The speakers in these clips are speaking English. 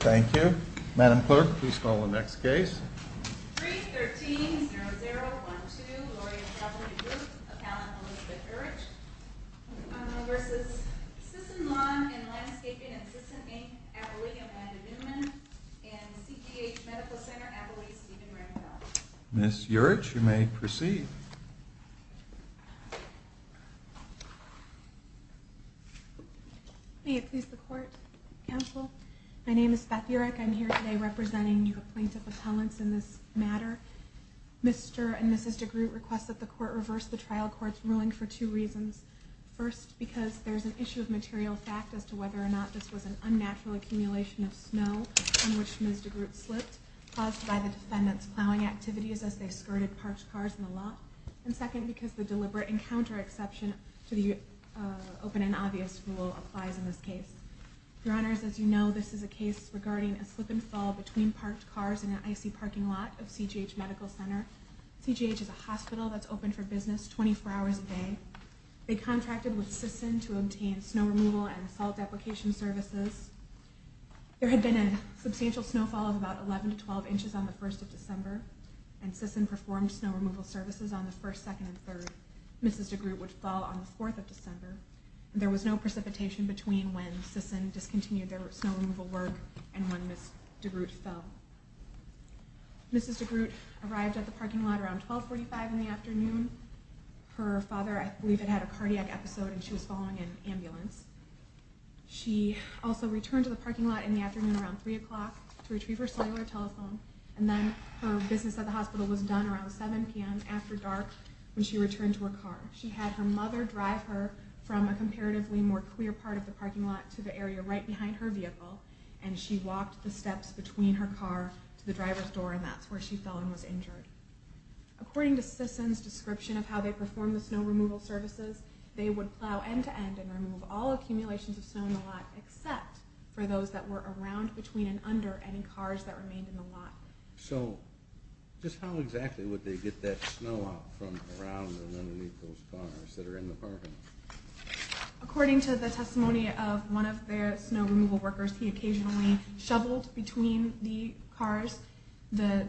Thank you. Madam Clerk, please call the next case. 313-0012, Gloria Calvert-DeGroot, appellant Elizabeth Urich, v. Sisson-Long & Lanscaping & Sisson Inc., Abilene Amanda Newman, and CGH Medical Center, Abilene Stephen Randolph. Ms. Urich, you may proceed. May it please the Court, Counsel. My name is Beth Urich. I'm here today representing you, a plaintiff appellant, in this matter. Mr. and Mrs. DeGroot request that the Court reverse the trial court's ruling for two reasons. First, because there's an issue of material fact as to whether or not this was an unnatural accumulation of snow on which Ms. DeGroot slipped, caused by the defendant's plowing activities as they skirted parked cars in the lot. And second, because the deliberate encounter exception to the open and obvious rule applies in this case. Your Honors, as you know, this is a case regarding a slip and fall between parked cars in an icy parking lot of CGH Medical Center. CGH is a hospital that's open for business 24 hours a day. They contracted with Sisson to obtain snow removal and salt deprecation services. There had been a substantial snowfall of about 11 to 12 inches on the 1st of December, and Sisson performed snow removal services on the 1st, 2nd, and 3rd. Mrs. DeGroot would fall on the 4th of December. There was no precipitation between when Sisson discontinued their snow removal work and when Ms. DeGroot fell. Mrs. DeGroot arrived at the parking lot around 1245 in the afternoon. Her father, I believe, had a cardiac episode and she was following an ambulance. She also returned to the parking lot in the afternoon around 3 o'clock to retrieve her cellular telephone, and then her business at the hospital was done around 7 p.m. after dark when she returned to her car. She had her mother drive her from a comparatively more clear part of the parking lot to the area right behind her vehicle, and she walked the steps between her car to the driver's door, and that's where she fell and was injured. According to Sisson's description of how they performed the snow removal services, they would plow end-to-end and remove all accumulations of snow in the lot except for those that were around, between, and under any cars that remained in the lot. So just how exactly would they get that snow out from around and underneath those cars that are in the parking lot? According to the testimony of one of their snow removal workers, he occasionally shoveled between the cars. The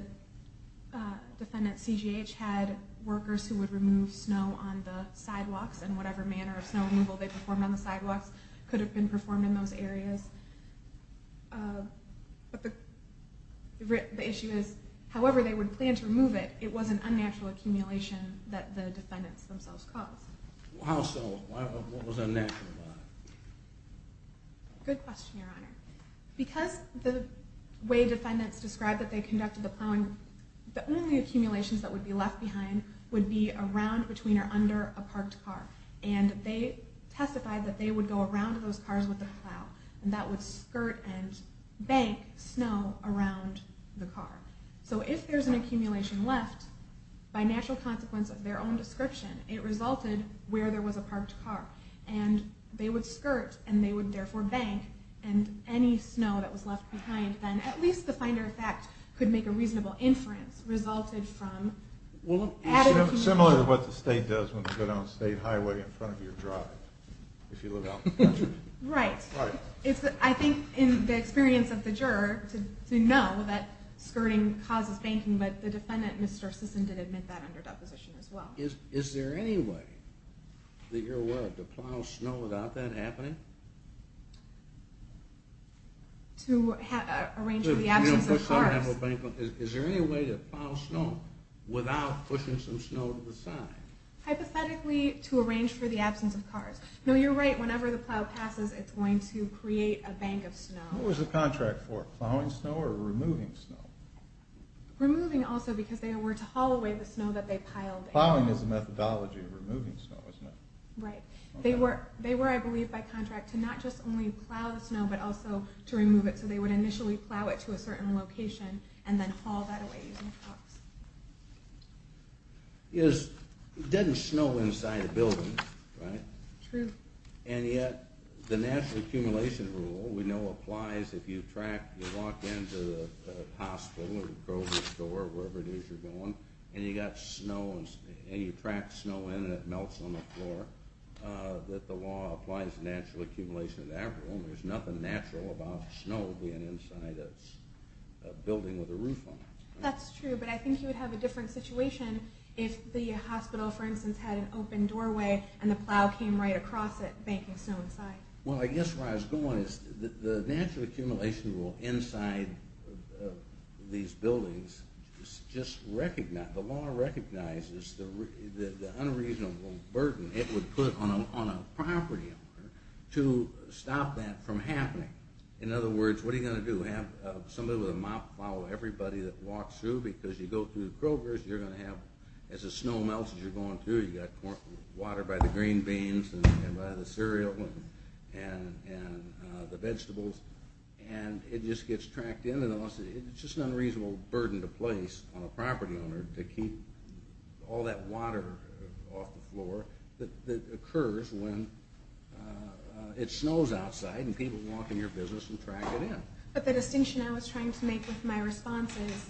defendant, CGH, had workers who would remove snow on the sidewalks, and whatever manner of snow removal they performed on the sidewalks could have been performed in those areas. But the issue is, however they would plan to remove it, it was an unnatural accumulation that the defendants themselves caused. How so? What was unnatural about it? Good question, Your Honor. Because the way defendants described that they conducted the plowing, the only accumulations that would be left behind would be around, between, or under a parked car. And they testified that they would go around those cars with a plow, and that would skirt and bank snow around the car. So if there's an accumulation left, by natural consequence of their own description, it resulted where there was a parked car. And they would skirt, and they would therefore bank, and any snow that was left behind, then at least the finder of fact could make a reasonable inference, resulted from added accumulation. Similar to what the state does when you go down a state highway in front of your driveway, if you live out in the country. Right. I think in the experience of the juror, to know that skirting causes banking, but the defendant, Mr. Sisson, did admit that under deposition as well. Is there any way, that you're aware of, to plow snow without that happening? To arrange for the absence of cars. Is there any way to plow snow without pushing some snow to the side? Hypothetically, to arrange for the absence of cars. No, you're right, whenever the plow passes, it's going to create a bank of snow. What was the contract for, plowing snow or removing snow? Removing also, because they were to haul away the snow that they piled. Plowing is a methodology of removing snow, isn't it? Right. They were, I believe, by contract to not just only plow the snow, but also to remove it. So they would initially plow it to a certain location, and then haul that away using trucks. It doesn't snow inside a building, right? True. And yet, the natural accumulation rule we know applies if you walk into a hospital or grocery store, wherever it is you're going, and you got snow, and you track snow in and it melts on the floor, that the law applies natural accumulation in that room. There's nothing natural about snow being inside a building with a roof on it. That's true, but I think you would have a different situation if the hospital, for instance, had an open doorway, and the plow came right across it, banking snow inside. Well, I guess where I was going is the natural accumulation rule inside these buildings just recognizes, the law recognizes the unreasonable burden it would put on a property owner to stop that from happening. In other words, what are you going to do? Have somebody with a mop plow, everybody that walks through? Because you go through the grovers, you're going to have, as the snow melts as you're going through, you got water by the green beans and by the cereal and the vegetables, and it just gets tracked in, and it's just an unreasonable burden to place on a property owner to keep all that water off the floor that occurs when it snows outside and people walk in your business and track it in. But the distinction I was trying to make with my response is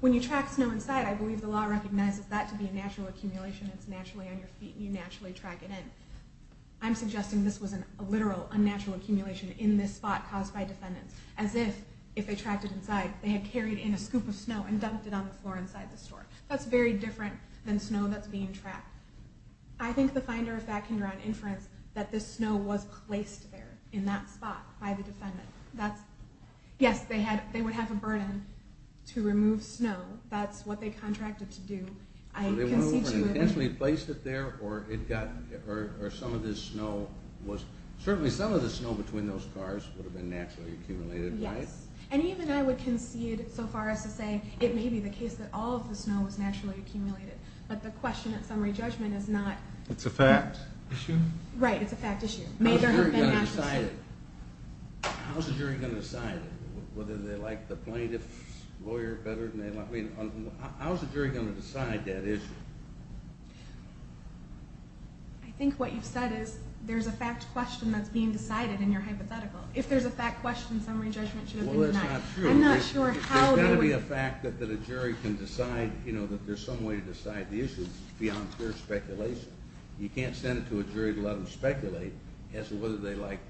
when you track snow inside, I believe the law recognizes that to be a natural accumulation. It's naturally on your feet, and you naturally track it in. I'm suggesting this was a literal unnatural accumulation in this spot caused by defendants, as if, if they tracked it inside, they had carried in a scoop of snow and dumped it on the floor inside the store. That's very different than snow that's being tracked. I think the finder of fact can draw an inference that this snow was placed there in that spot by the defendant. Yes, they would have a burden to remove snow. That's what they contracted to do. So they went over and intentionally placed it there, or some of this snow was, certainly some of the snow between those cars would have been naturally accumulated, right? Yes, and even I would concede so far as to say it may be the case that all of the snow was naturally accumulated. But the question at summary judgment is not. It's a fact issue? Right, it's a fact issue. How's a jury going to decide it? How's a jury going to decide it? Whether they like the plaintiff's lawyer better than they like—I mean, how's a jury going to decide that issue? I think what you've said is there's a fact question that's being decided in your hypothetical. If there's a fact question, summary judgment should have been denied. Well, that's not true. I'm not sure how— There's got to be a fact that a jury can decide, you know, that there's some way to decide. The issue is beyond pure speculation. You can't send it to a jury to let them speculate as to whether they like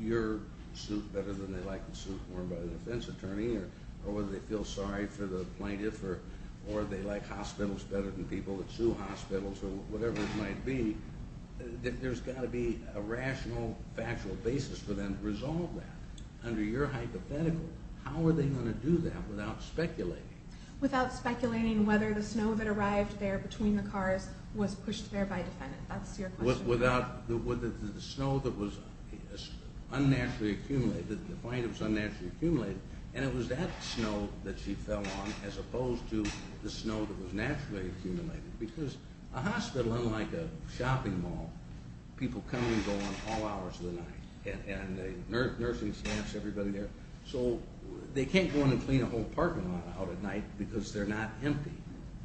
your suit better than they like the suit worn by the defense attorney or whether they feel sorry for the plaintiff or they like hospitals better than people that sue hospitals or whatever it might be. There's got to be a rational, factual basis for them to resolve that. Under your hypothetical, how are they going to do that without speculating? Without speculating whether the snow that arrived there between the cars was pushed there by a defendant. That's your question. Without—the snow that was unnaturally accumulated, the plaintiff's unnaturally accumulated, and it was that snow that she fell on as opposed to the snow that was naturally accumulated because a hospital, unlike a shopping mall, people come and go on all hours of the night, and the nursing staffs, everybody there, so they can't go in and clean a whole apartment out at night because they're not empty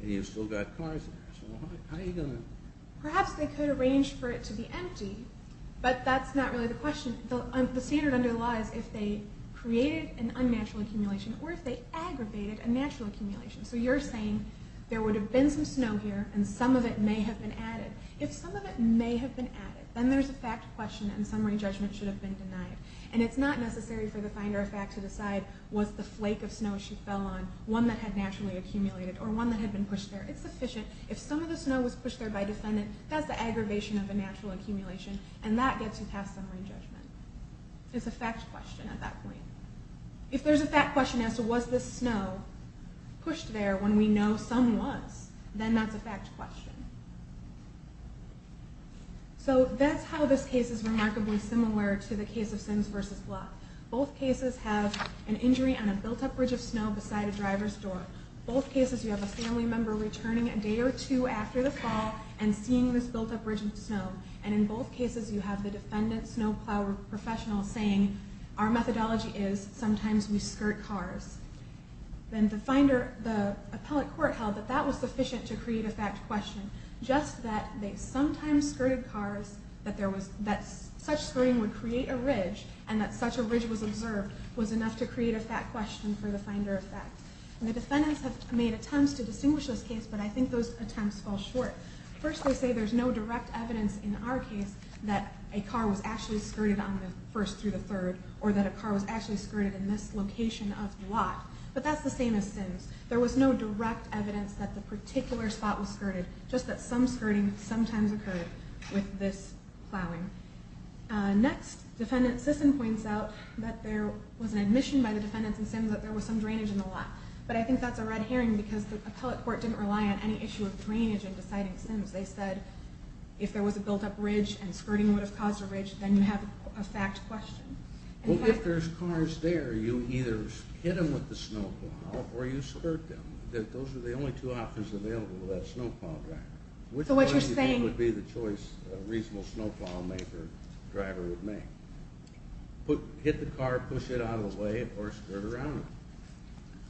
and you've still got cars in there. So how are you going to— Perhaps they could arrange for it to be empty, but that's not really the question. The standard under the law is if they created an unnatural accumulation or if they aggravated a natural accumulation. So you're saying there would have been some snow here and some of it may have been added. If some of it may have been added, then there's a fact question and summary judgment should have been denied. And it's not necessary for the finder of fact to decide was the flake of snow she fell on one that had naturally accumulated or one that had been pushed there. It's sufficient. If some of the snow was pushed there by a defendant, that's the aggravation of a natural accumulation, and that gets you past summary judgment. It's a fact question at that point. If there's a fact question as to was this snow pushed there when we know some was, then that's a fact question. So that's how this case is remarkably similar to the case of Sims v. Bluff. Both cases have an injury on a built-up ridge of snow beside a driver's door. Both cases you have a family member returning a day or two after the fall and seeing this built-up ridge of snow. And in both cases you have the defendant, snow plow professional, saying, our methodology is sometimes we skirt cars. Then the appellate court held that that was sufficient to create a fact question. Just that they sometimes skirted cars, that such skirting would create a ridge, and that such a ridge was observed was enough to create a fact question for the finder of fact. The defendants have made attempts to distinguish this case, but I think those attempts fall short. First they say there's no direct evidence in our case that a car was actually skirted on the first through the third, or that a car was actually skirted in this location of the lot. But that's the same as Sims. There was no direct evidence that the particular spot was skirted, just that some skirting sometimes occurred with this plowing. Next, defendant Sisson points out that there was an admission by the defendants in Sims that there was some drainage in the lot. But I think that's a red herring because the appellate court didn't rely on any issue of drainage in deciding Sims. They said if there was a built-up ridge and skirting would have caused a ridge, then you have a fact question. Well, if there's cars there, you either hit them with the snow plow or you skirt them. Those are the only two options available to that snow plow driver. So what you're saying would be the choice a reasonable snow plow driver would make. Hit the car, push it out of the way, or skirt around it.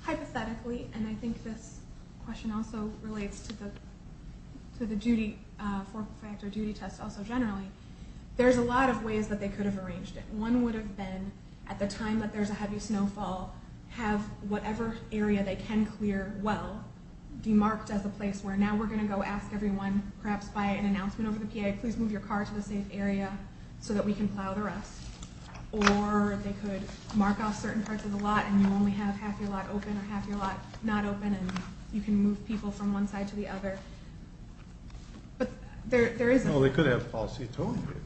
Hypothetically, and I think this question also relates to the four-factor duty test also generally, there's a lot of ways that they could have arranged it. One would have been at the time that there's a heavy snowfall, have whatever area they can clear well demarked as a place where now we're going to go ask everyone, perhaps by an announcement over the PA, please move your car to a safe area so that we can plow the rest. Or they could mark off certain parts of the lot and you only have half your lot open or half your lot not open and you can move people from one side to the other. No, they could have a policy of towing vehicles.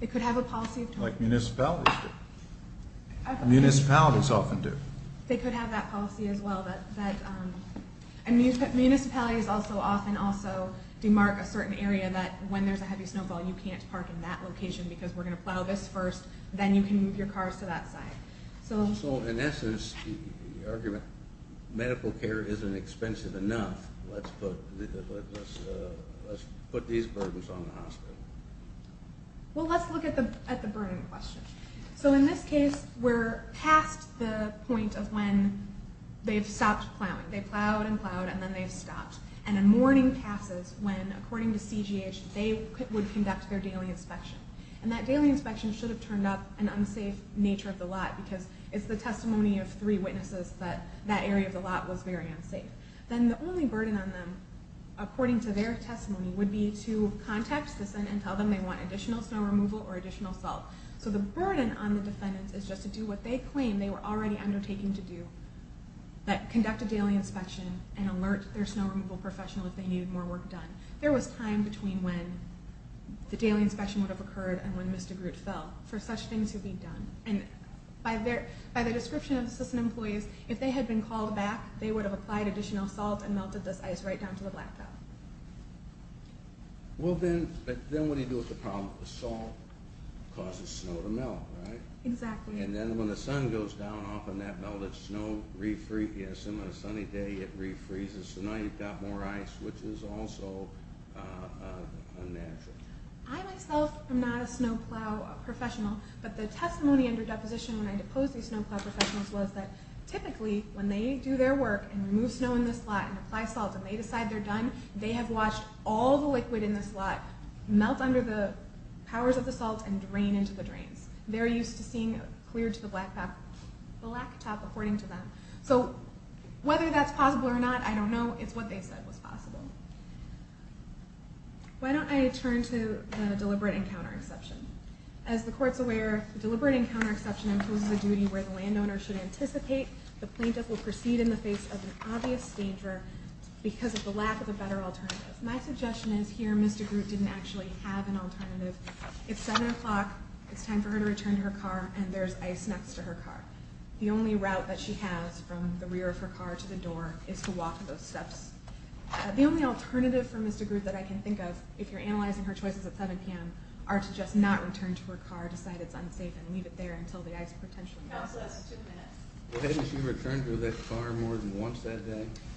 They could have a policy of towing. Like municipalities do. Municipalities often do. They could have that policy as well. Municipalities often also demark a certain area that when there's a heavy snowfall you can't park in that location because we're going to plow this first, then you can move your cars to that side. So in essence, the argument, medical care isn't expensive enough, let's put these burdens on the hospital. Well, let's look at the burden question. So in this case, we're past the point of when they've stopped plowing. They plowed and plowed and then they've stopped. And then morning passes when, according to CGH, they would conduct their daily inspection. And that daily inspection should have turned up an unsafe nature of the lot because it's the testimony of three witnesses that that area of the lot was very unsafe. Then the only burden on them, according to their testimony, would be to contact the Senate and tell them they want additional snow removal or additional salt. So the burden on the defendants is just to do what they claim they were already undertaking to do, that conduct a daily inspection and alert their snow removal professional if they needed more work done. There was time between when the daily inspection would have occurred and when Mr. Groot fell for such things to be done. And by the description of the citizen employees, if they had been called back, they would have applied additional salt and melted this ice right down to the blackout. Well, then what do you do with the problem? The salt causes snow to melt, right? Exactly. And then when the sun goes down off of that melted snow, you assume on a sunny day it refreezes, so now you've got more ice, which is also unnatural. I myself am not a snow plow professional, but the testimony under deposition when I deposed these snow plow professionals was that typically when they do their work and remove snow in this lot and apply salt and they decide they're done, they have washed all the liquid in this lot, melt under the powers of the salt, and drain into the drains. They're used to seeing clear to the blacktop, according to them. So whether that's possible or not, I don't know. It's what they said was possible. Why don't I turn to the deliberate encounter exception? As the Court's aware, deliberate encounter exception imposes a duty where the landowner should anticipate the plaintiff will proceed in the face of an obvious danger because of the lack of a better alternative. My suggestion is here Mr. Groot didn't actually have an alternative. It's 7 o'clock, it's time for her to return to her car, and there's ice next to her car. The only route that she has from the rear of her car to the door is to walk those steps. The only alternative for Mr. Groot that I can think of, if you're analyzing her choices at 7 p.m., are to just not return to her car, decide it's unsafe, and leave it there until the ice potentially melts.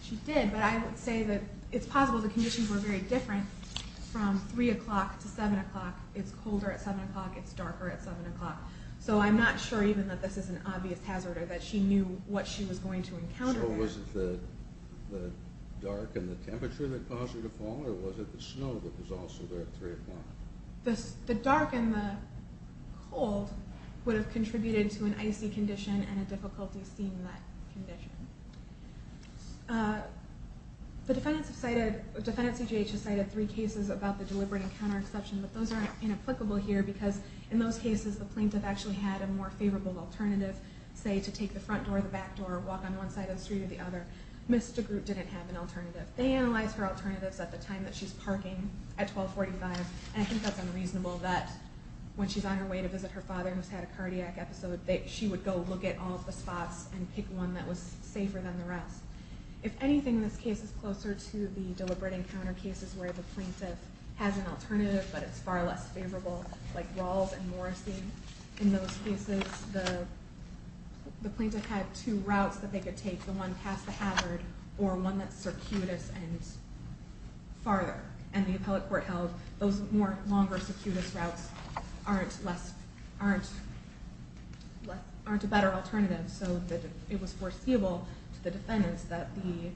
She did, but I would say that it's possible the conditions were very different from 3 o'clock to 7 o'clock. It's colder at 7 o'clock, it's darker at 7 o'clock. So I'm not sure even that this is an obvious hazard or that she knew what she was going to encounter there. So was it the dark and the temperature that caused her to fall, or was it the snow that was also there at 3 o'clock? The dark and the cold would have contributed to an icy condition and a difficulty seeing that condition. The defendants have cited, defendant CJH has cited three cases about the deliberate encounter exception, but those are inapplicable here because in those cases the plaintiff actually had a more favorable alternative, say, to take the front door or the back door, walk on one side of the street or the other. Ms. DeGroote didn't have an alternative. They analyzed her alternatives at the time that she's parking at 1245, and I think that's unreasonable that when she's on her way to visit her father and has had a cardiac episode that she would go look at all the spots and pick one that was safer than the rest. If anything, this case is closer to the deliberate encounter cases where the plaintiff has an alternative, but it's far less favorable, like Rawls and Morrissey. In those cases, the plaintiff had two routes that they could take, the one past the hazard or one that's circuitous and farther, and the appellate court held those longer, circuitous routes aren't a better alternative, so it was foreseeable to the defendants that the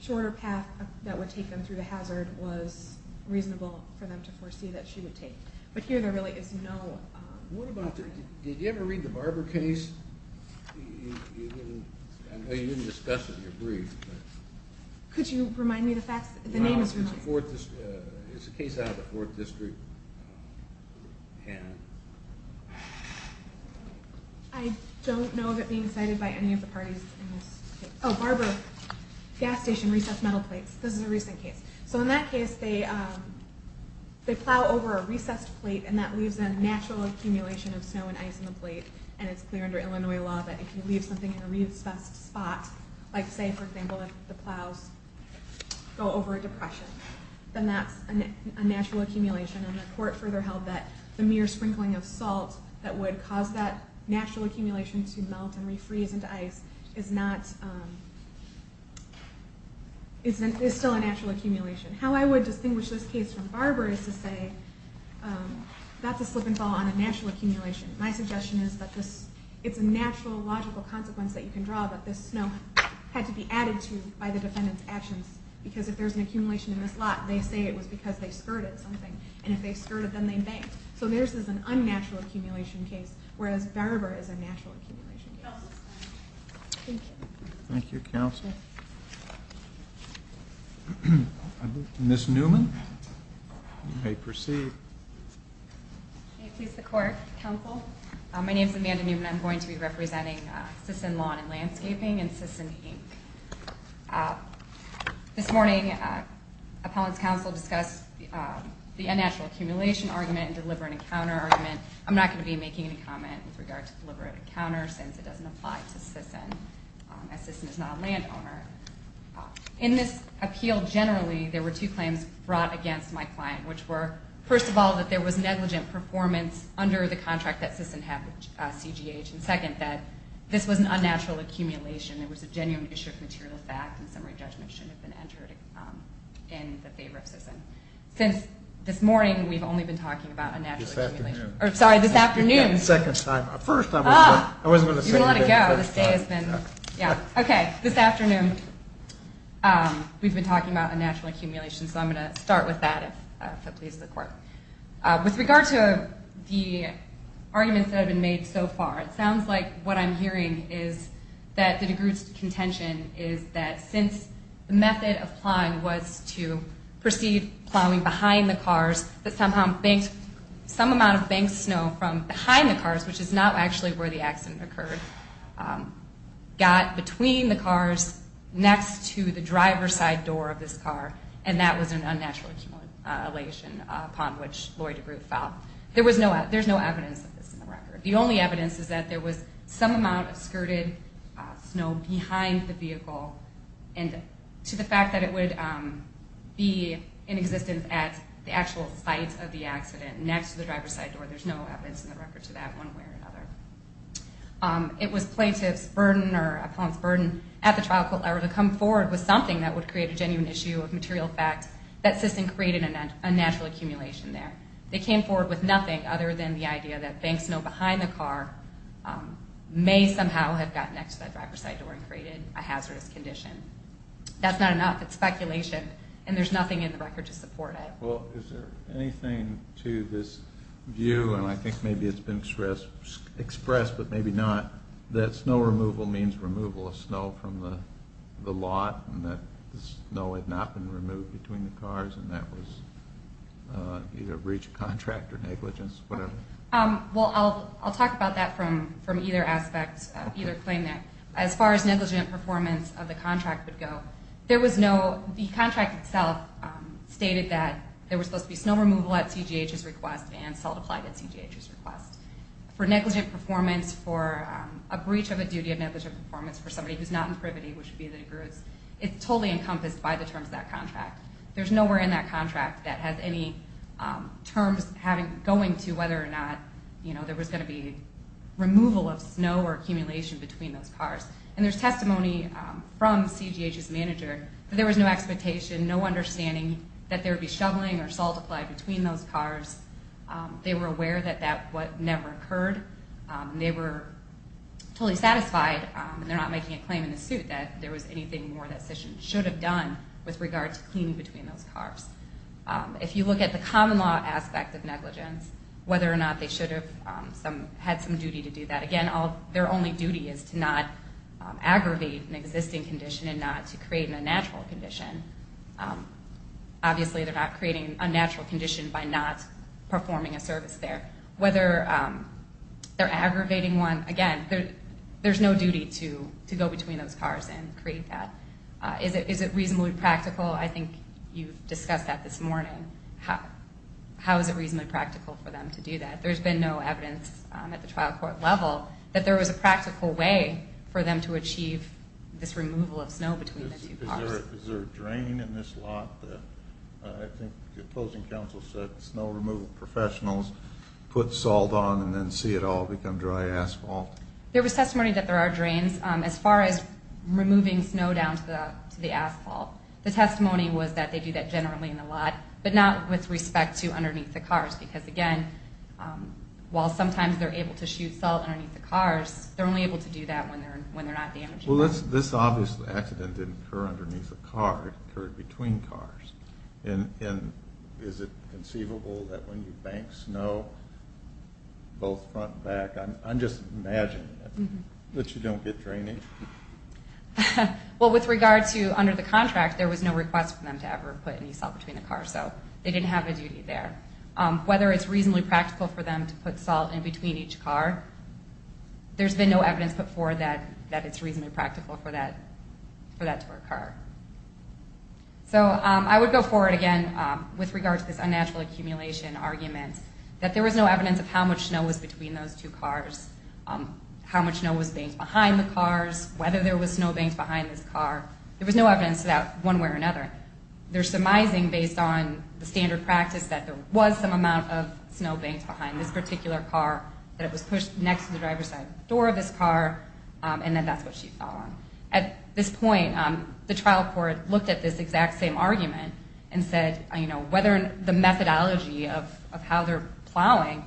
shorter path that would take them through the hazard was reasonable for them to foresee that she would take. But here there really is no alternative. Did you ever read the Barber case? I know you didn't discuss it in your brief. Could you remind me the facts? The name is removed. It's a case out of the 4th District. I don't know of it being cited by any of the parties in this case. Oh, Barber, gas station recessed metal plates. This is a recent case. So in that case, they plow over a recessed plate and that leaves a natural accumulation of snow and ice in the plate, and it's clear under Illinois law that if you leave something in a recessed spot, like say, for example, if the plows go over a depression, then that's a natural accumulation, and the court further held that the mere sprinkling of salt that would cause that natural accumulation to melt and refreeze into ice is still a natural accumulation. How I would distinguish this case from Barber is to say that's a slip and fall on a natural accumulation. My suggestion is that it's a natural logical consequence that you can draw that this snow had to be added to by the defendant's actions because if there's an accumulation in this lot, they say it was because they skirted something, and if they skirted, then they banked. So theirs is an unnatural accumulation case, whereas Barber is a natural accumulation case. Thank you. Thank you, counsel. Ms. Newman, you may proceed. May it please the court, counsel. My name is Amanda Newman. I'm going to be representing Sisson Lawn and Landscaping and Sisson Inc. This morning, appellant's counsel discussed the unnatural accumulation argument and deliberate encounter argument. I'm not going to be making any comment with regard to deliberate encounter since it doesn't apply to Sisson, as Sisson is not a landowner. In this appeal, generally, there were two claims brought against my client, which were, first of all, that there was negligent performance under the contract that Sisson had with CGH, and second, that this was an unnatural accumulation. There was a genuine issue of material fact, and summary judgment shouldn't have been entered in the favor of Sisson. Since this morning, we've only been talking about unnatural accumulation. This afternoon. Sorry, this afternoon. Second time. First, I was going to say. You can let it go. This day has been. Okay. This afternoon, we've been talking about unnatural accumulation, so I'm going to start with that, if that pleases the court. With regard to the arguments that have been made so far, it sounds like what I'm hearing is that the DeGroote's contention is that since the method of plowing was to proceed plowing behind the cars, that somehow some amount of banked snow from behind the cars, which is not actually where the accident occurred, got between the cars next to the driver's side door of this car, and that was an unnatural elation upon which Lloyd DeGroote fell. There's no evidence of this in the record. The only evidence is that there was some amount of skirted snow behind the vehicle, and to the fact that it would be in existence at the actual site of the accident, next to the driver's side door. There's no evidence in the record to that one way or another. It was plaintiff's burden or opponent's burden at the trial court level to come forward with something that would create a genuine issue of material fact that Sisson created a natural accumulation there. They came forward with nothing other than the idea that banked snow behind the car may somehow have gotten next to that driver's side door and created a hazardous condition. That's not enough. It's speculation, and there's nothing in the record to support it. Well, is there anything to this view, and I think maybe it's been expressed but maybe not, that snow removal means removal of snow from the lot and that the snow had not been removed between the cars and that was either a breach of contract or negligence, whatever? Well, I'll talk about that from either aspect, either claim there. As far as negligent performance of the contract would go, the contract itself stated that there was supposed to be snow removal at CGH's request and salt applied at CGH's request. For negligent performance, for a breach of a duty of negligent performance, for somebody who's not in privity, which would be the degree, it's totally encompassed by the terms of that contract. There's nowhere in that contract that has any terms going to whether or not there was going to be removal of snow or accumulation between those cars. And there's testimony from CGH's manager that there was no expectation, no understanding that there would be shoveling or salt applied between those cars. They were aware that that never occurred. They were totally satisfied, and they're not making a claim in the suit, that there was anything more that CISH should have done with regard to cleaning between those cars. If you look at the common law aspect of negligence, whether or not they should have had some duty to do that, again, their only duty is to not aggravate an existing condition and not to create an unnatural condition. Obviously, they're not creating an unnatural condition by not performing a service there. Whether they're aggravating one, again, there's no duty to go between those cars and create that. Is it reasonably practical? I think you've discussed that this morning. How is it reasonably practical for them to do that? There's been no evidence at the trial court level that there was a practical way for them to achieve this removal of snow between the two cars. Is there a drain in this lot? I think the opposing counsel said snow removal professionals put salt on and then see it all become dry asphalt. There was testimony that there are drains. As far as removing snow down to the asphalt, the testimony was that they do that generally in the lot, but not with respect to underneath the cars because, again, while sometimes they're able to shoot salt underneath the cars, they're only able to do that when they're not damaging it. Well, this obviously accident didn't occur underneath the car. It occurred between cars. And is it conceivable that when you bank snow both front and back, I'm just imagining it, that you don't get draining? Well, with regard to under the contract, there was no request for them to ever put any salt between the cars, so they didn't have a duty there. Whether it's reasonably practical for them to put salt in between each car, there's been no evidence put forward that it's reasonably practical for that to occur. So I would go forward again with regard to this unnatural accumulation argument that there was no evidence of how much snow was between those two cars, how much snow was banked behind the cars, whether there was snow banked behind this car. There was no evidence of that one way or another. They're surmising based on the standard practice that there was some amount of snow banked behind this particular car, that it was pushed next to the driver's side door of this car, and then that's what she found. At this point, the trial court looked at this exact same argument and said, you know, whether the methodology of how they're plowing,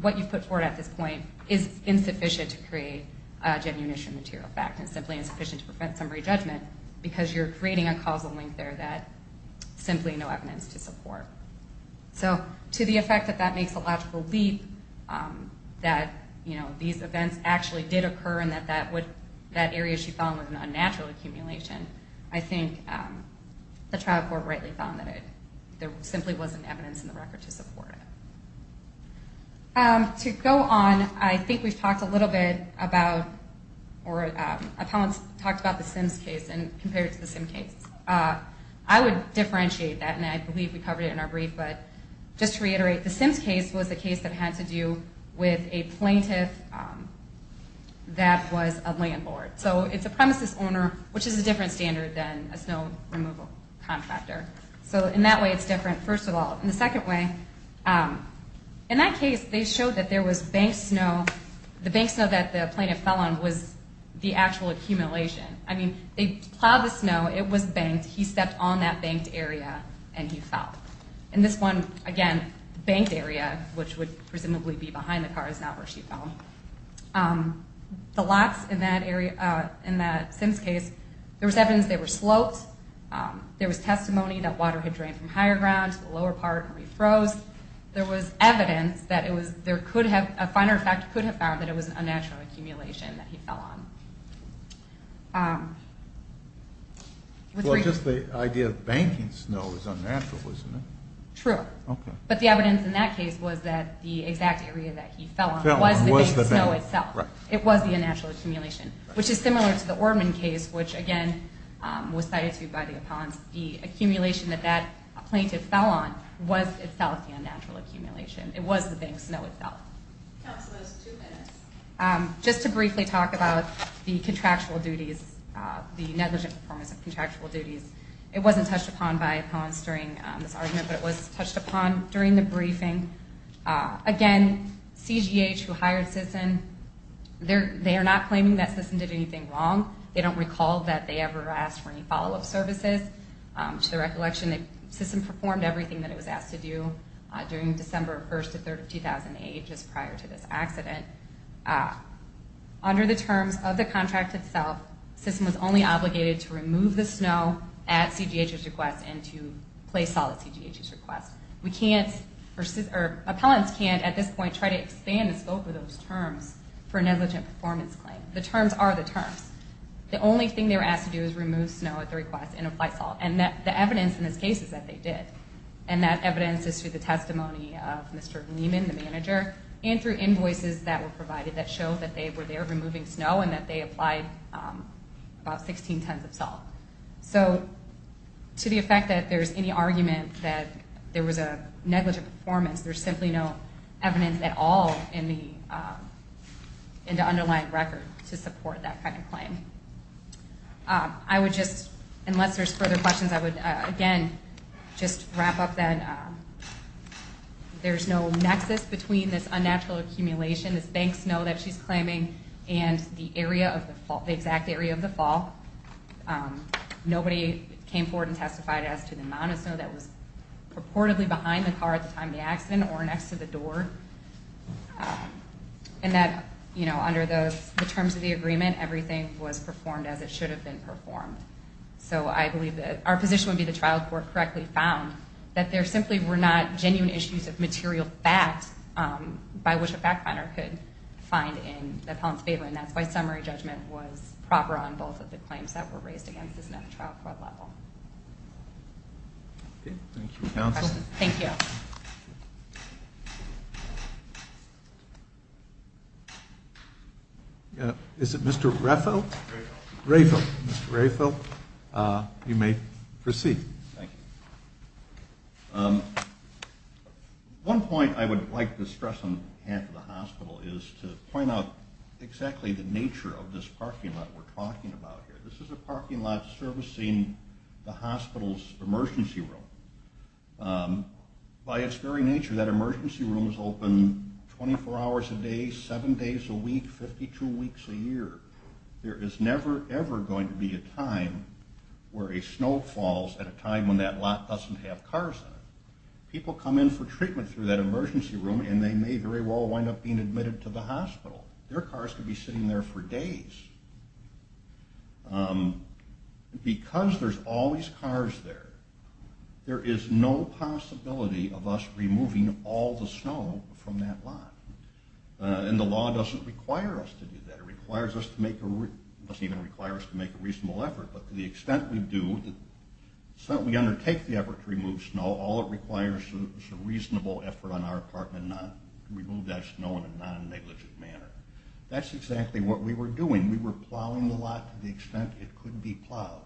what you've put forward at this point is insufficient to create a genuine issue of material fact and simply insufficient to prevent summary judgment because you're creating a causal link there that simply no evidence to support. So to the effect that that makes a logical leap that, you know, these events actually did occur and that that area she found was an unnatural accumulation, I think the trial court rightly found that there simply wasn't evidence in the record to support it. To go on, I think we've talked a little bit about, or appellants talked about the Sims case compared to the Sim case. I would differentiate that, and I believe we covered it in our brief. But just to reiterate, the Sims case was a case that had to do with a plaintiff that was a landlord. So it's a premises owner, which is a different standard than a snow removal contractor. So in that way, it's different, first of all. And the second way, in that case, they showed that there was banked snow. The banked snow that the plaintiff fell on was the actual accumulation. I mean, they plowed the snow. It was banked. He stepped on that banked area, and he fell. And this one, again, the banked area, which would presumably be behind the car, is not where she fell. The lots in that Sims case, there was evidence they were sloped. There was testimony that water had drained from higher ground to the lower part and refroze. There was evidence that there could have, a finer effect could have found, that it was an unnatural accumulation that he fell on. Well, just the idea of banked snow is unnatural, isn't it? True. But the evidence in that case was that the exact area that he fell on was the banked snow itself. It was the unnatural accumulation. Which is similar to the Orman case, which, again, was cited to by the opponents. The accumulation that that plaintiff fell on was itself the unnatural accumulation. It was the banked snow itself. Counselors, two minutes. Just to briefly talk about the contractual duties, the negligent performance of contractual duties. It wasn't touched upon by opponents during this argument, but it was touched upon during the briefing. Again, CGH, who hired Sisson, they are not claiming that Sisson did anything wrong. They don't recall that they ever asked for any follow-up services. To the recollection, Sisson performed everything that it was asked to do during December 1st to 3rd of 2008, just prior to this accident. Under the terms of the contract itself, Sisson was only obligated to remove the snow at CGH's request and to place all at CGH's request. We can't, or opponents can't, at this point, try to expand the scope of those terms for a negligent performance claim. The terms are the terms. The only thing they were asked to do is remove snow at the request and apply salt. The evidence in this case is that they did. That evidence is through the testimony of Mr. Lehman, the manager, and through invoices that were provided that show that they were there removing snow and that they applied about 16 tons of salt. To the effect that there's any argument that there was a negligent performance, there's simply no evidence at all in the underlying record to support that kind of claim. I would just, unless there's further questions, I would again just wrap up that there's no nexus between this unnatural accumulation, this bank snow that she's claiming, and the exact area of the fall. Nobody came forward and testified as to the amount of snow that was purportedly behind the car at the time of the accident or next to the door. And that, you know, under the terms of the agreement, everything was performed as it should have been performed. So I believe that our position would be the trial court correctly found that there simply were not genuine issues of material fact by which a fact finder could find in the appellant's favor, and that's why summary judgment was proper on both of the claims that were raised against this at the trial court level. Okay. Thank you, counsel. Thank you. Is it Mr. Raefel? Raefel. Raefel. Mr. Raefel, you may proceed. Thank you. One point I would like to stress on behalf of the hospital is to point out exactly the nature of this parking lot we're talking about here. This is a parking lot servicing the hospital's emergency room. By its very nature, that emergency room is open 24 hours a day, seven days a week, 52 weeks a year. There is never, ever going to be a time where a snow falls at a time when that lot doesn't have cars in it. People come in for treatment through that emergency room, and they may very well wind up being admitted to the hospital. Their cars could be sitting there for days. Because there's always cars there, there is no possibility of us removing all the snow from that lot. And the law doesn't require us to do that. It doesn't even require us to make a reasonable effort, but to the extent we do, the extent we undertake the effort to remove snow, all it requires is a reasonable effort on our part to remove that snow in a non-negligent manner. That's exactly what we were doing. We were plowing the lot to the extent it could be plowed.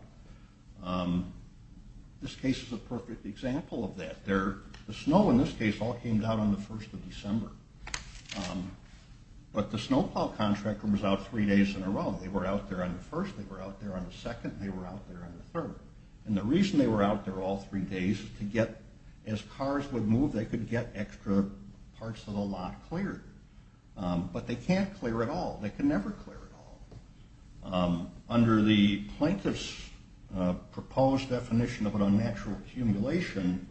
This case is a perfect example of that. The snow in this case all came down on the 1st of December. But the snow plow contractor was out three days in a row. They were out there on the 1st, they were out there on the 2nd, and they were out there on the 3rd. And the reason they were out there all three days is to get, as cars would move, they could get extra parts of the lot cleared. But they can't clear it all. They can never clear it all. Under the plaintiff's proposed definition of an unnatural accumulation,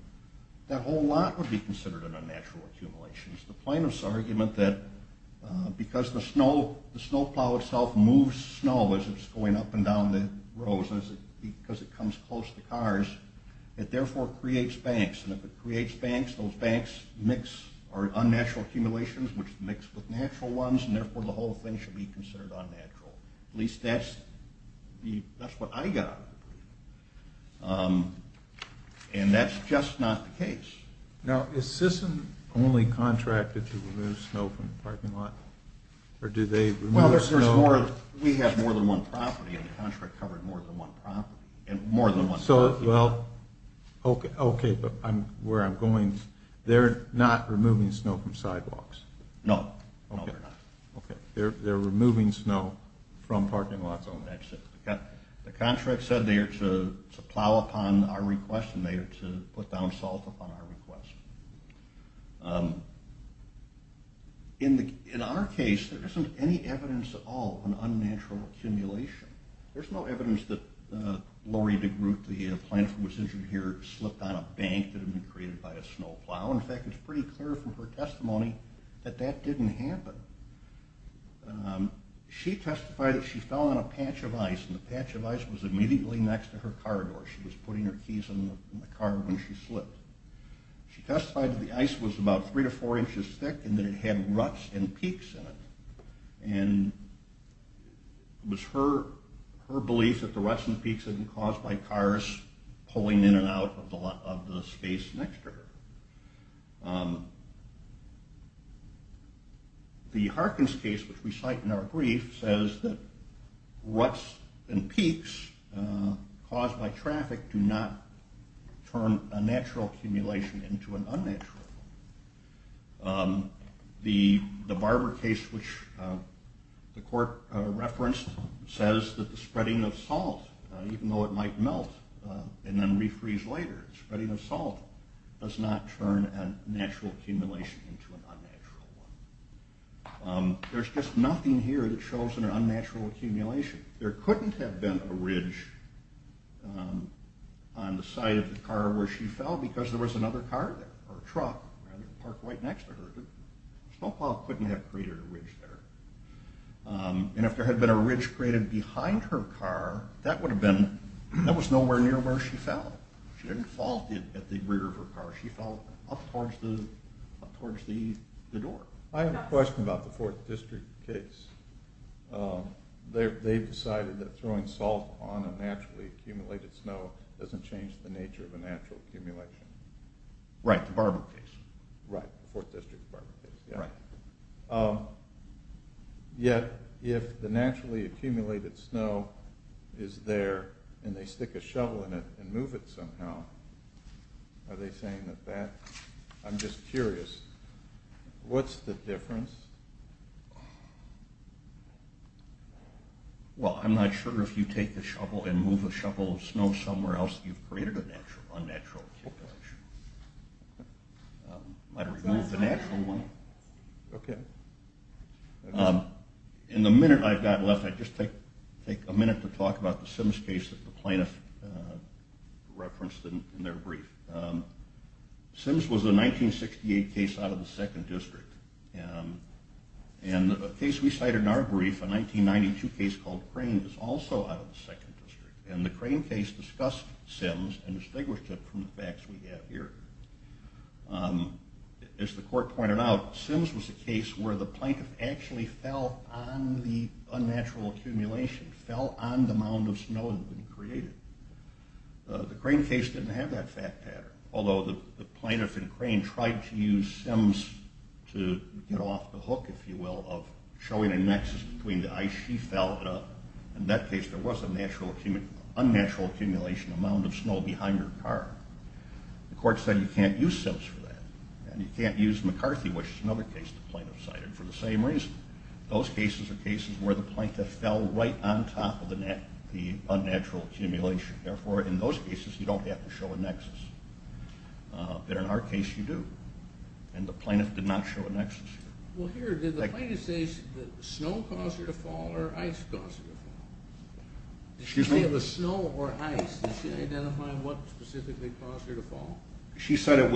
that whole lot would be considered an unnatural accumulation. The plaintiff's argument that because the snow plow itself moves snow as it's going up and down the rows, and because it comes close to cars, it therefore creates banks. And if it creates banks, those banks mix unnatural accumulations, which mix with natural ones, and therefore the whole thing should be considered unnatural. At least that's what I got. And that's just not the case. Now, is CISN only contracted to remove snow from the parking lot? Or do they remove snow... No, we have more than one property, and the contract covered more than one property. So, well, okay, but where I'm going, they're not removing snow from sidewalks? No, no, they're not. Okay, they're removing snow from parking lots on the exit. The contract said they are to plow upon our request, and they are to put down salt upon our request. In our case, there isn't any evidence at all of an unnatural accumulation. There's no evidence that Lori DeGroote, the plaintiff who was injured here, slipped on a bank that had been created by a snow plow. In fact, it's pretty clear from her testimony that that didn't happen. She testified that she fell on a patch of ice, and the patch of ice was immediately next to her car door. She testified that the ice was about three to four inches thick, and that it had ruts and peaks in it. And it was her belief that the ruts and peaks had been caused by cars pulling in and out of the space next to her. The Harkins case, which we cite in our brief, says that ruts and peaks caused by traffic do not turn a natural accumulation into an unnatural one. The Barber case, which the court referenced, says that the spreading of salt, even though it might melt and then refreeze later, spreading of salt does not turn a natural accumulation into an unnatural one. There's just nothing here that shows an unnatural accumulation. There couldn't have been a ridge on the side of the car where she fell because there was another car there, or truck parked right next to her. The snow plow couldn't have created a ridge there. And if there had been a ridge created behind her car, that was nowhere near where she fell. She didn't fall at the rear of her car, she fell up towards the door. I have a question about the Fourth District case. They've decided that throwing salt on a naturally accumulated snow doesn't change the nature of a natural accumulation. Right, the Barber case. Right, the Fourth District Barber case. Right. Yet, if the naturally accumulated snow is there and they stick a shovel in it and move it somehow, are they saying that that... I'm just curious, what's the difference? Well, I'm not sure if you take a shovel and move a shovel of snow somewhere else, you've created an unnatural accumulation. I'd remove the natural one. Okay. In the minute I've got left, I'd just take a minute to talk about the Sims case that the plaintiff referenced in their brief. Sims was a 1968 case out of the Second District. And a case we cited in our brief, a 1992 case called Crane, was also out of the Second District. And the Crane case discussed Sims and distinguished it from the facts we have here. As the court pointed out, Sims was a case where the plaintiff actually fell on the unnatural accumulation, fell on the mound of snow that had been created. The Crane case didn't have that fact pattern. Although the plaintiff in Crane tried to use Sims to get off the hook, if you will, of showing a nexus between the ice she felled up. In that case, there was an unnatural accumulation, a mound of snow behind her car. The court said you can't use Sims for that. And you can't use McCarthy, which is another case the plaintiff cited, for the same reason. Those cases are cases where the plaintiff fell right on top of the unnatural accumulation. Therefore, in those cases, you don't have to show a nexus. But in our case, you do. And the plaintiff did not show a nexus here. Well, here, did the plaintiff say that snow caused her to fall or ice caused her to fall? Excuse me? Did she say it was snow or ice? Did she identify what specifically caused her to fall? She said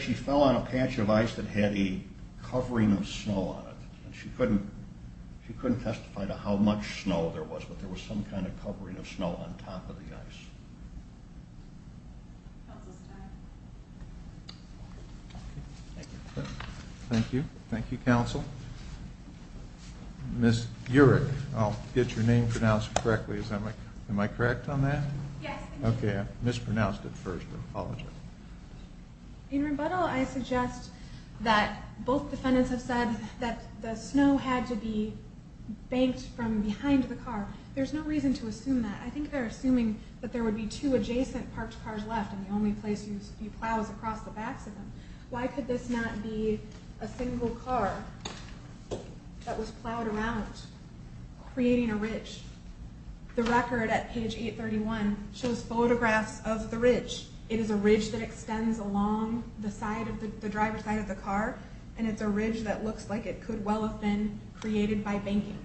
she fell on a patch of ice that had a covering of snow on it. She couldn't testify to how much snow there was, but there was some kind of covering of snow on top of the ice. Counsel's time. Thank you. Thank you. Thank you, counsel. Ms. Urick, I'll get your name pronounced correctly. Am I correct on that? Yes, thank you. Okay, I mispronounced it first. I apologize. In rebuttal, I suggest that both defendants have said that the snow had to be banked from behind the car. There's no reason to assume that. I think they're assuming that there would be two adjacent parked cars left, and the only place you plow is across the backs of them. Why could this not be a single car that was plowed around, creating a ridge? The record at page 831 shows photographs of the ridge. It is a ridge that extends along the driver's side of the car, and it's a ridge that looks like it could well have been created by banking.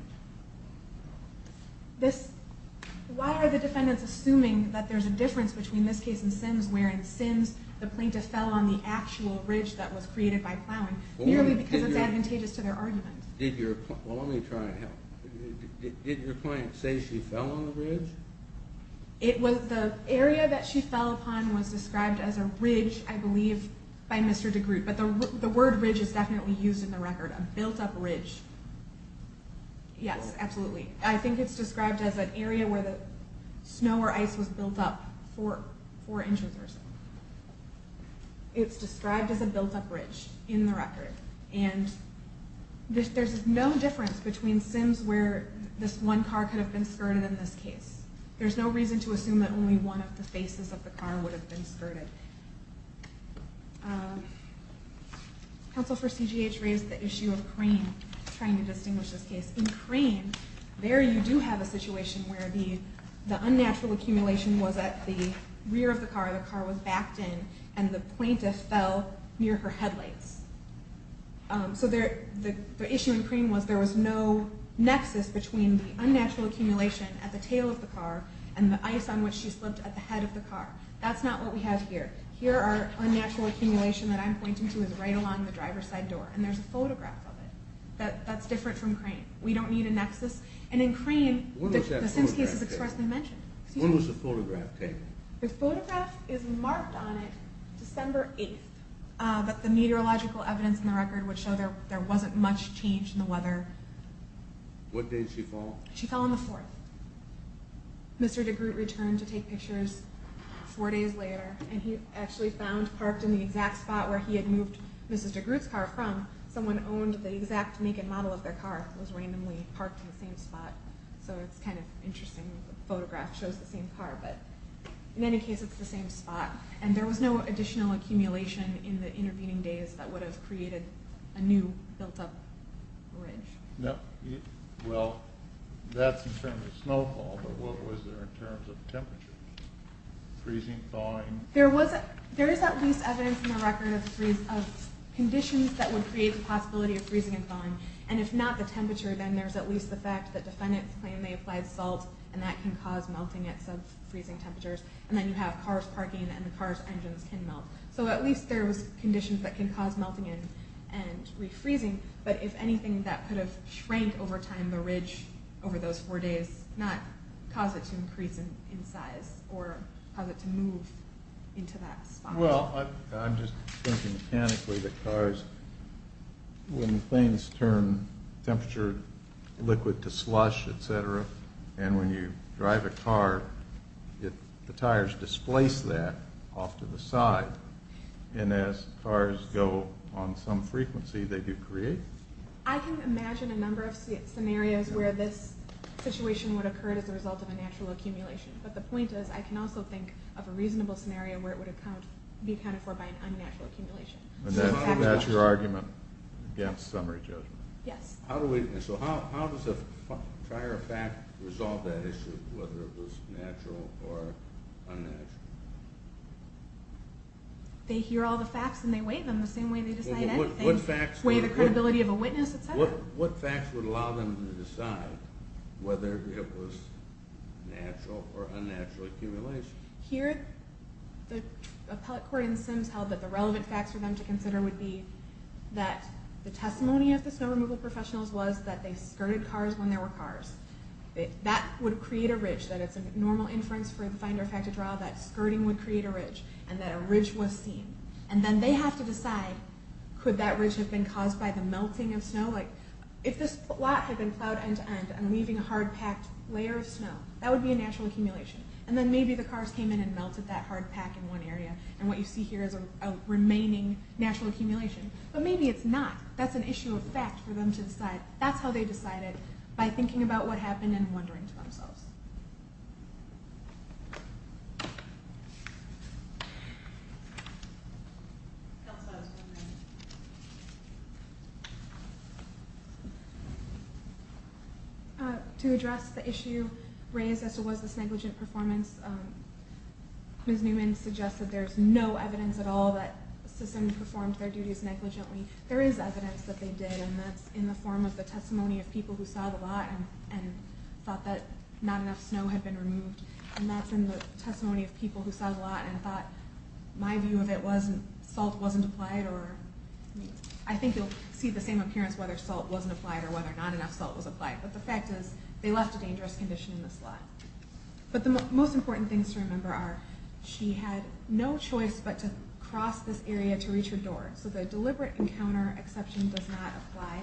Why are the defendants assuming that there's a difference between this case and Sims, where in Sims, the plaintiff fell on the actual ridge that was created by plowing, merely because it's advantageous to their argument? Well, let me try and help. Did your client say she fell on the ridge? The area that she fell upon was described as a ridge, I believe, by Mr. DeGroote. But the word ridge is definitely used in the record, a built-up ridge. Yes, absolutely. I think it's described as an area where snow or ice was built up four inches or so. It's described as a built-up ridge in the record, and there's no difference between Sims where this one car could have been skirted in this case. There's no reason to assume that only one of the faces of the car would have been skirted. Counsel for CGH raised the issue of Crane, trying to distinguish this case. In Crane, there you do have a situation where the unnatural accumulation was at the rear of the car, the car was backed in, and the plaintiff fell near her headlights. So the issue in Crane was there was no nexus between the unnatural accumulation at the tail of the car and the ice on which she slipped at the head of the car. That's not what we have here. Here, our unnatural accumulation that I'm pointing to is right along the driver's side door, and there's a photograph of it that's different from Crane. We don't need a nexus. And in Crane, the Sims case is expressly mentioned. When was the photograph taken? The photograph is marked on it December 8th, but the meteorological evidence in the record would show there wasn't much change in the weather. What day did she fall? She fell on the 4th. Mr. DeGroote returned to take pictures four days later, and he actually found, parked in the exact spot where he had moved Mrs. DeGroote's car from, someone owned the exact naked model of their car. It was randomly parked in the same spot. So it's kind of interesting. The photograph shows the same car, but in any case, it's the same spot. And there was no additional accumulation in the intervening days that would have created a new built-up ridge. Well, that's in terms of snowfall, but what was there in terms of temperature? Freezing, thawing? There is at least evidence in the record of conditions that would create the possibility of freezing and thawing. And if not the temperature, then there's at least the fact that defendants claim they applied salt, and that can cause melting at sub-freezing temperatures. And then you have cars parking, and the car's engines can melt. So at least there was conditions that can cause melting and refreezing. But if anything, that could have shrank over time the ridge over those four days, not cause it to increase in size or cause it to move into that spot. Well, I'm just thinking mechanically that cars, when things turn temperature liquid to slush, etc., and when you drive a car, the tires displace that off to the side. And as cars go on some frequency, they do create. I can imagine a number of scenarios where this situation would occur as a result of a natural accumulation. But the point is, I can also think of a reasonable scenario where it would be accounted for by an unnatural accumulation. And that's your argument against summary judgment? Yes. So how does a prior fact resolve that issue, whether it was natural or unnatural? They hear all the facts and they weigh them the same way they decide anything. Weigh the credibility of a witness, etc.? What facts would allow them to decide whether it was natural or unnatural accumulation? Here, the appellate court in Sims held that the relevant facts for them to consider would be that the testimony of the snow removal professionals was that they skirted cars when there were cars. That would create a ridge. That it's a normal inference for the finder-factor trial, that skirting would create a ridge, and that a ridge was seen. And then they have to decide, could that ridge have been caused by the melting of snow? If this lot had been plowed end-to-end and leaving a hard-packed layer of snow, that would be a natural accumulation. And then maybe the cars came in and melted that hard pack in one area, and what you see here is a remaining natural accumulation. But maybe it's not. That's an issue of fact for them to decide. That's how they decide it, by thinking about what happened and wondering to themselves. Counsel has one minute. To address the issue raised as to was this negligent performance, Ms. Newman suggested there's no evidence at all that Sisson performed their duties negligently. There is evidence that they did, and that's in the form of the testimony of people who saw the lot and thought that not enough snow had been removed. And that's in the testimony of people who saw the lot and thought, my view of it was salt wasn't applied. I think you'll see the same appearance whether salt wasn't applied or whether not enough salt was applied. But the fact is, they left a dangerous condition in this lot. But the most important things to remember are, she had no choice but to cross this area to reach her door. So the deliberate encounter exception does not apply.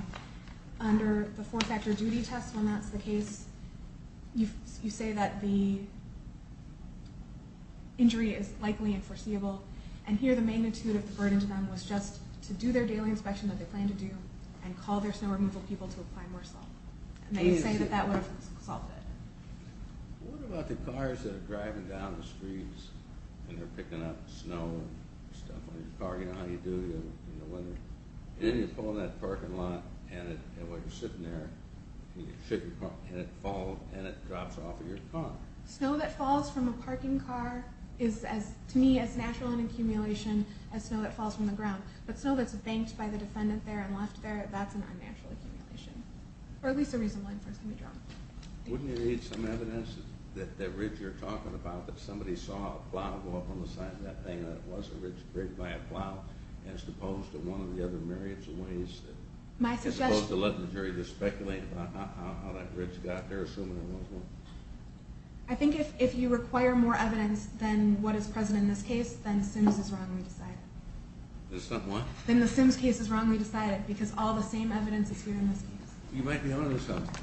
Under the four-factor duty test, when that's the case, you say that the injury is likely and foreseeable, and here the magnitude of the burden to them was just to do their daily inspection that they planned to do and call their snow removal people to apply more salt. And they say that that would have solved it. What about the cars that are driving down the streets and they're picking up snow and stuff on their car? You know how you do it in the winter? And then you pull in that parking lot and while you're sitting there, you shift your car and it falls and it drops off of your car. Snow that falls from a parking car is, to me, as natural an accumulation as snow that falls from the ground. But snow that's banked by the defendant there and left there, that's an unnatural accumulation. Or at least a reasonable one for us to be drawn to. Wouldn't it need some evidence that that ridge you're talking about, that somebody saw a plow go up on the side of that thing, and that it was a ridge created by a plow as opposed to one of the other myriads of ways that is supposed to let the jury speculate about how that ridge got there, assuming it was one? I think if you require more evidence than what is present in this case, then the Sims case is wrongly decided. What? Then the Sims case is wrongly decided because all the same evidence is here in this case. You might be on to something.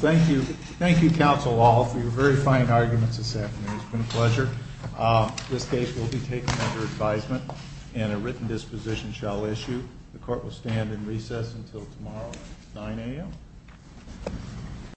Thank you. Thank you, counsel, all, for your very fine arguments this afternoon. It's been a pleasure. This case will be taken under advisement and a written disposition shall issue. The court will stand in recess until tomorrow at 9 a.m.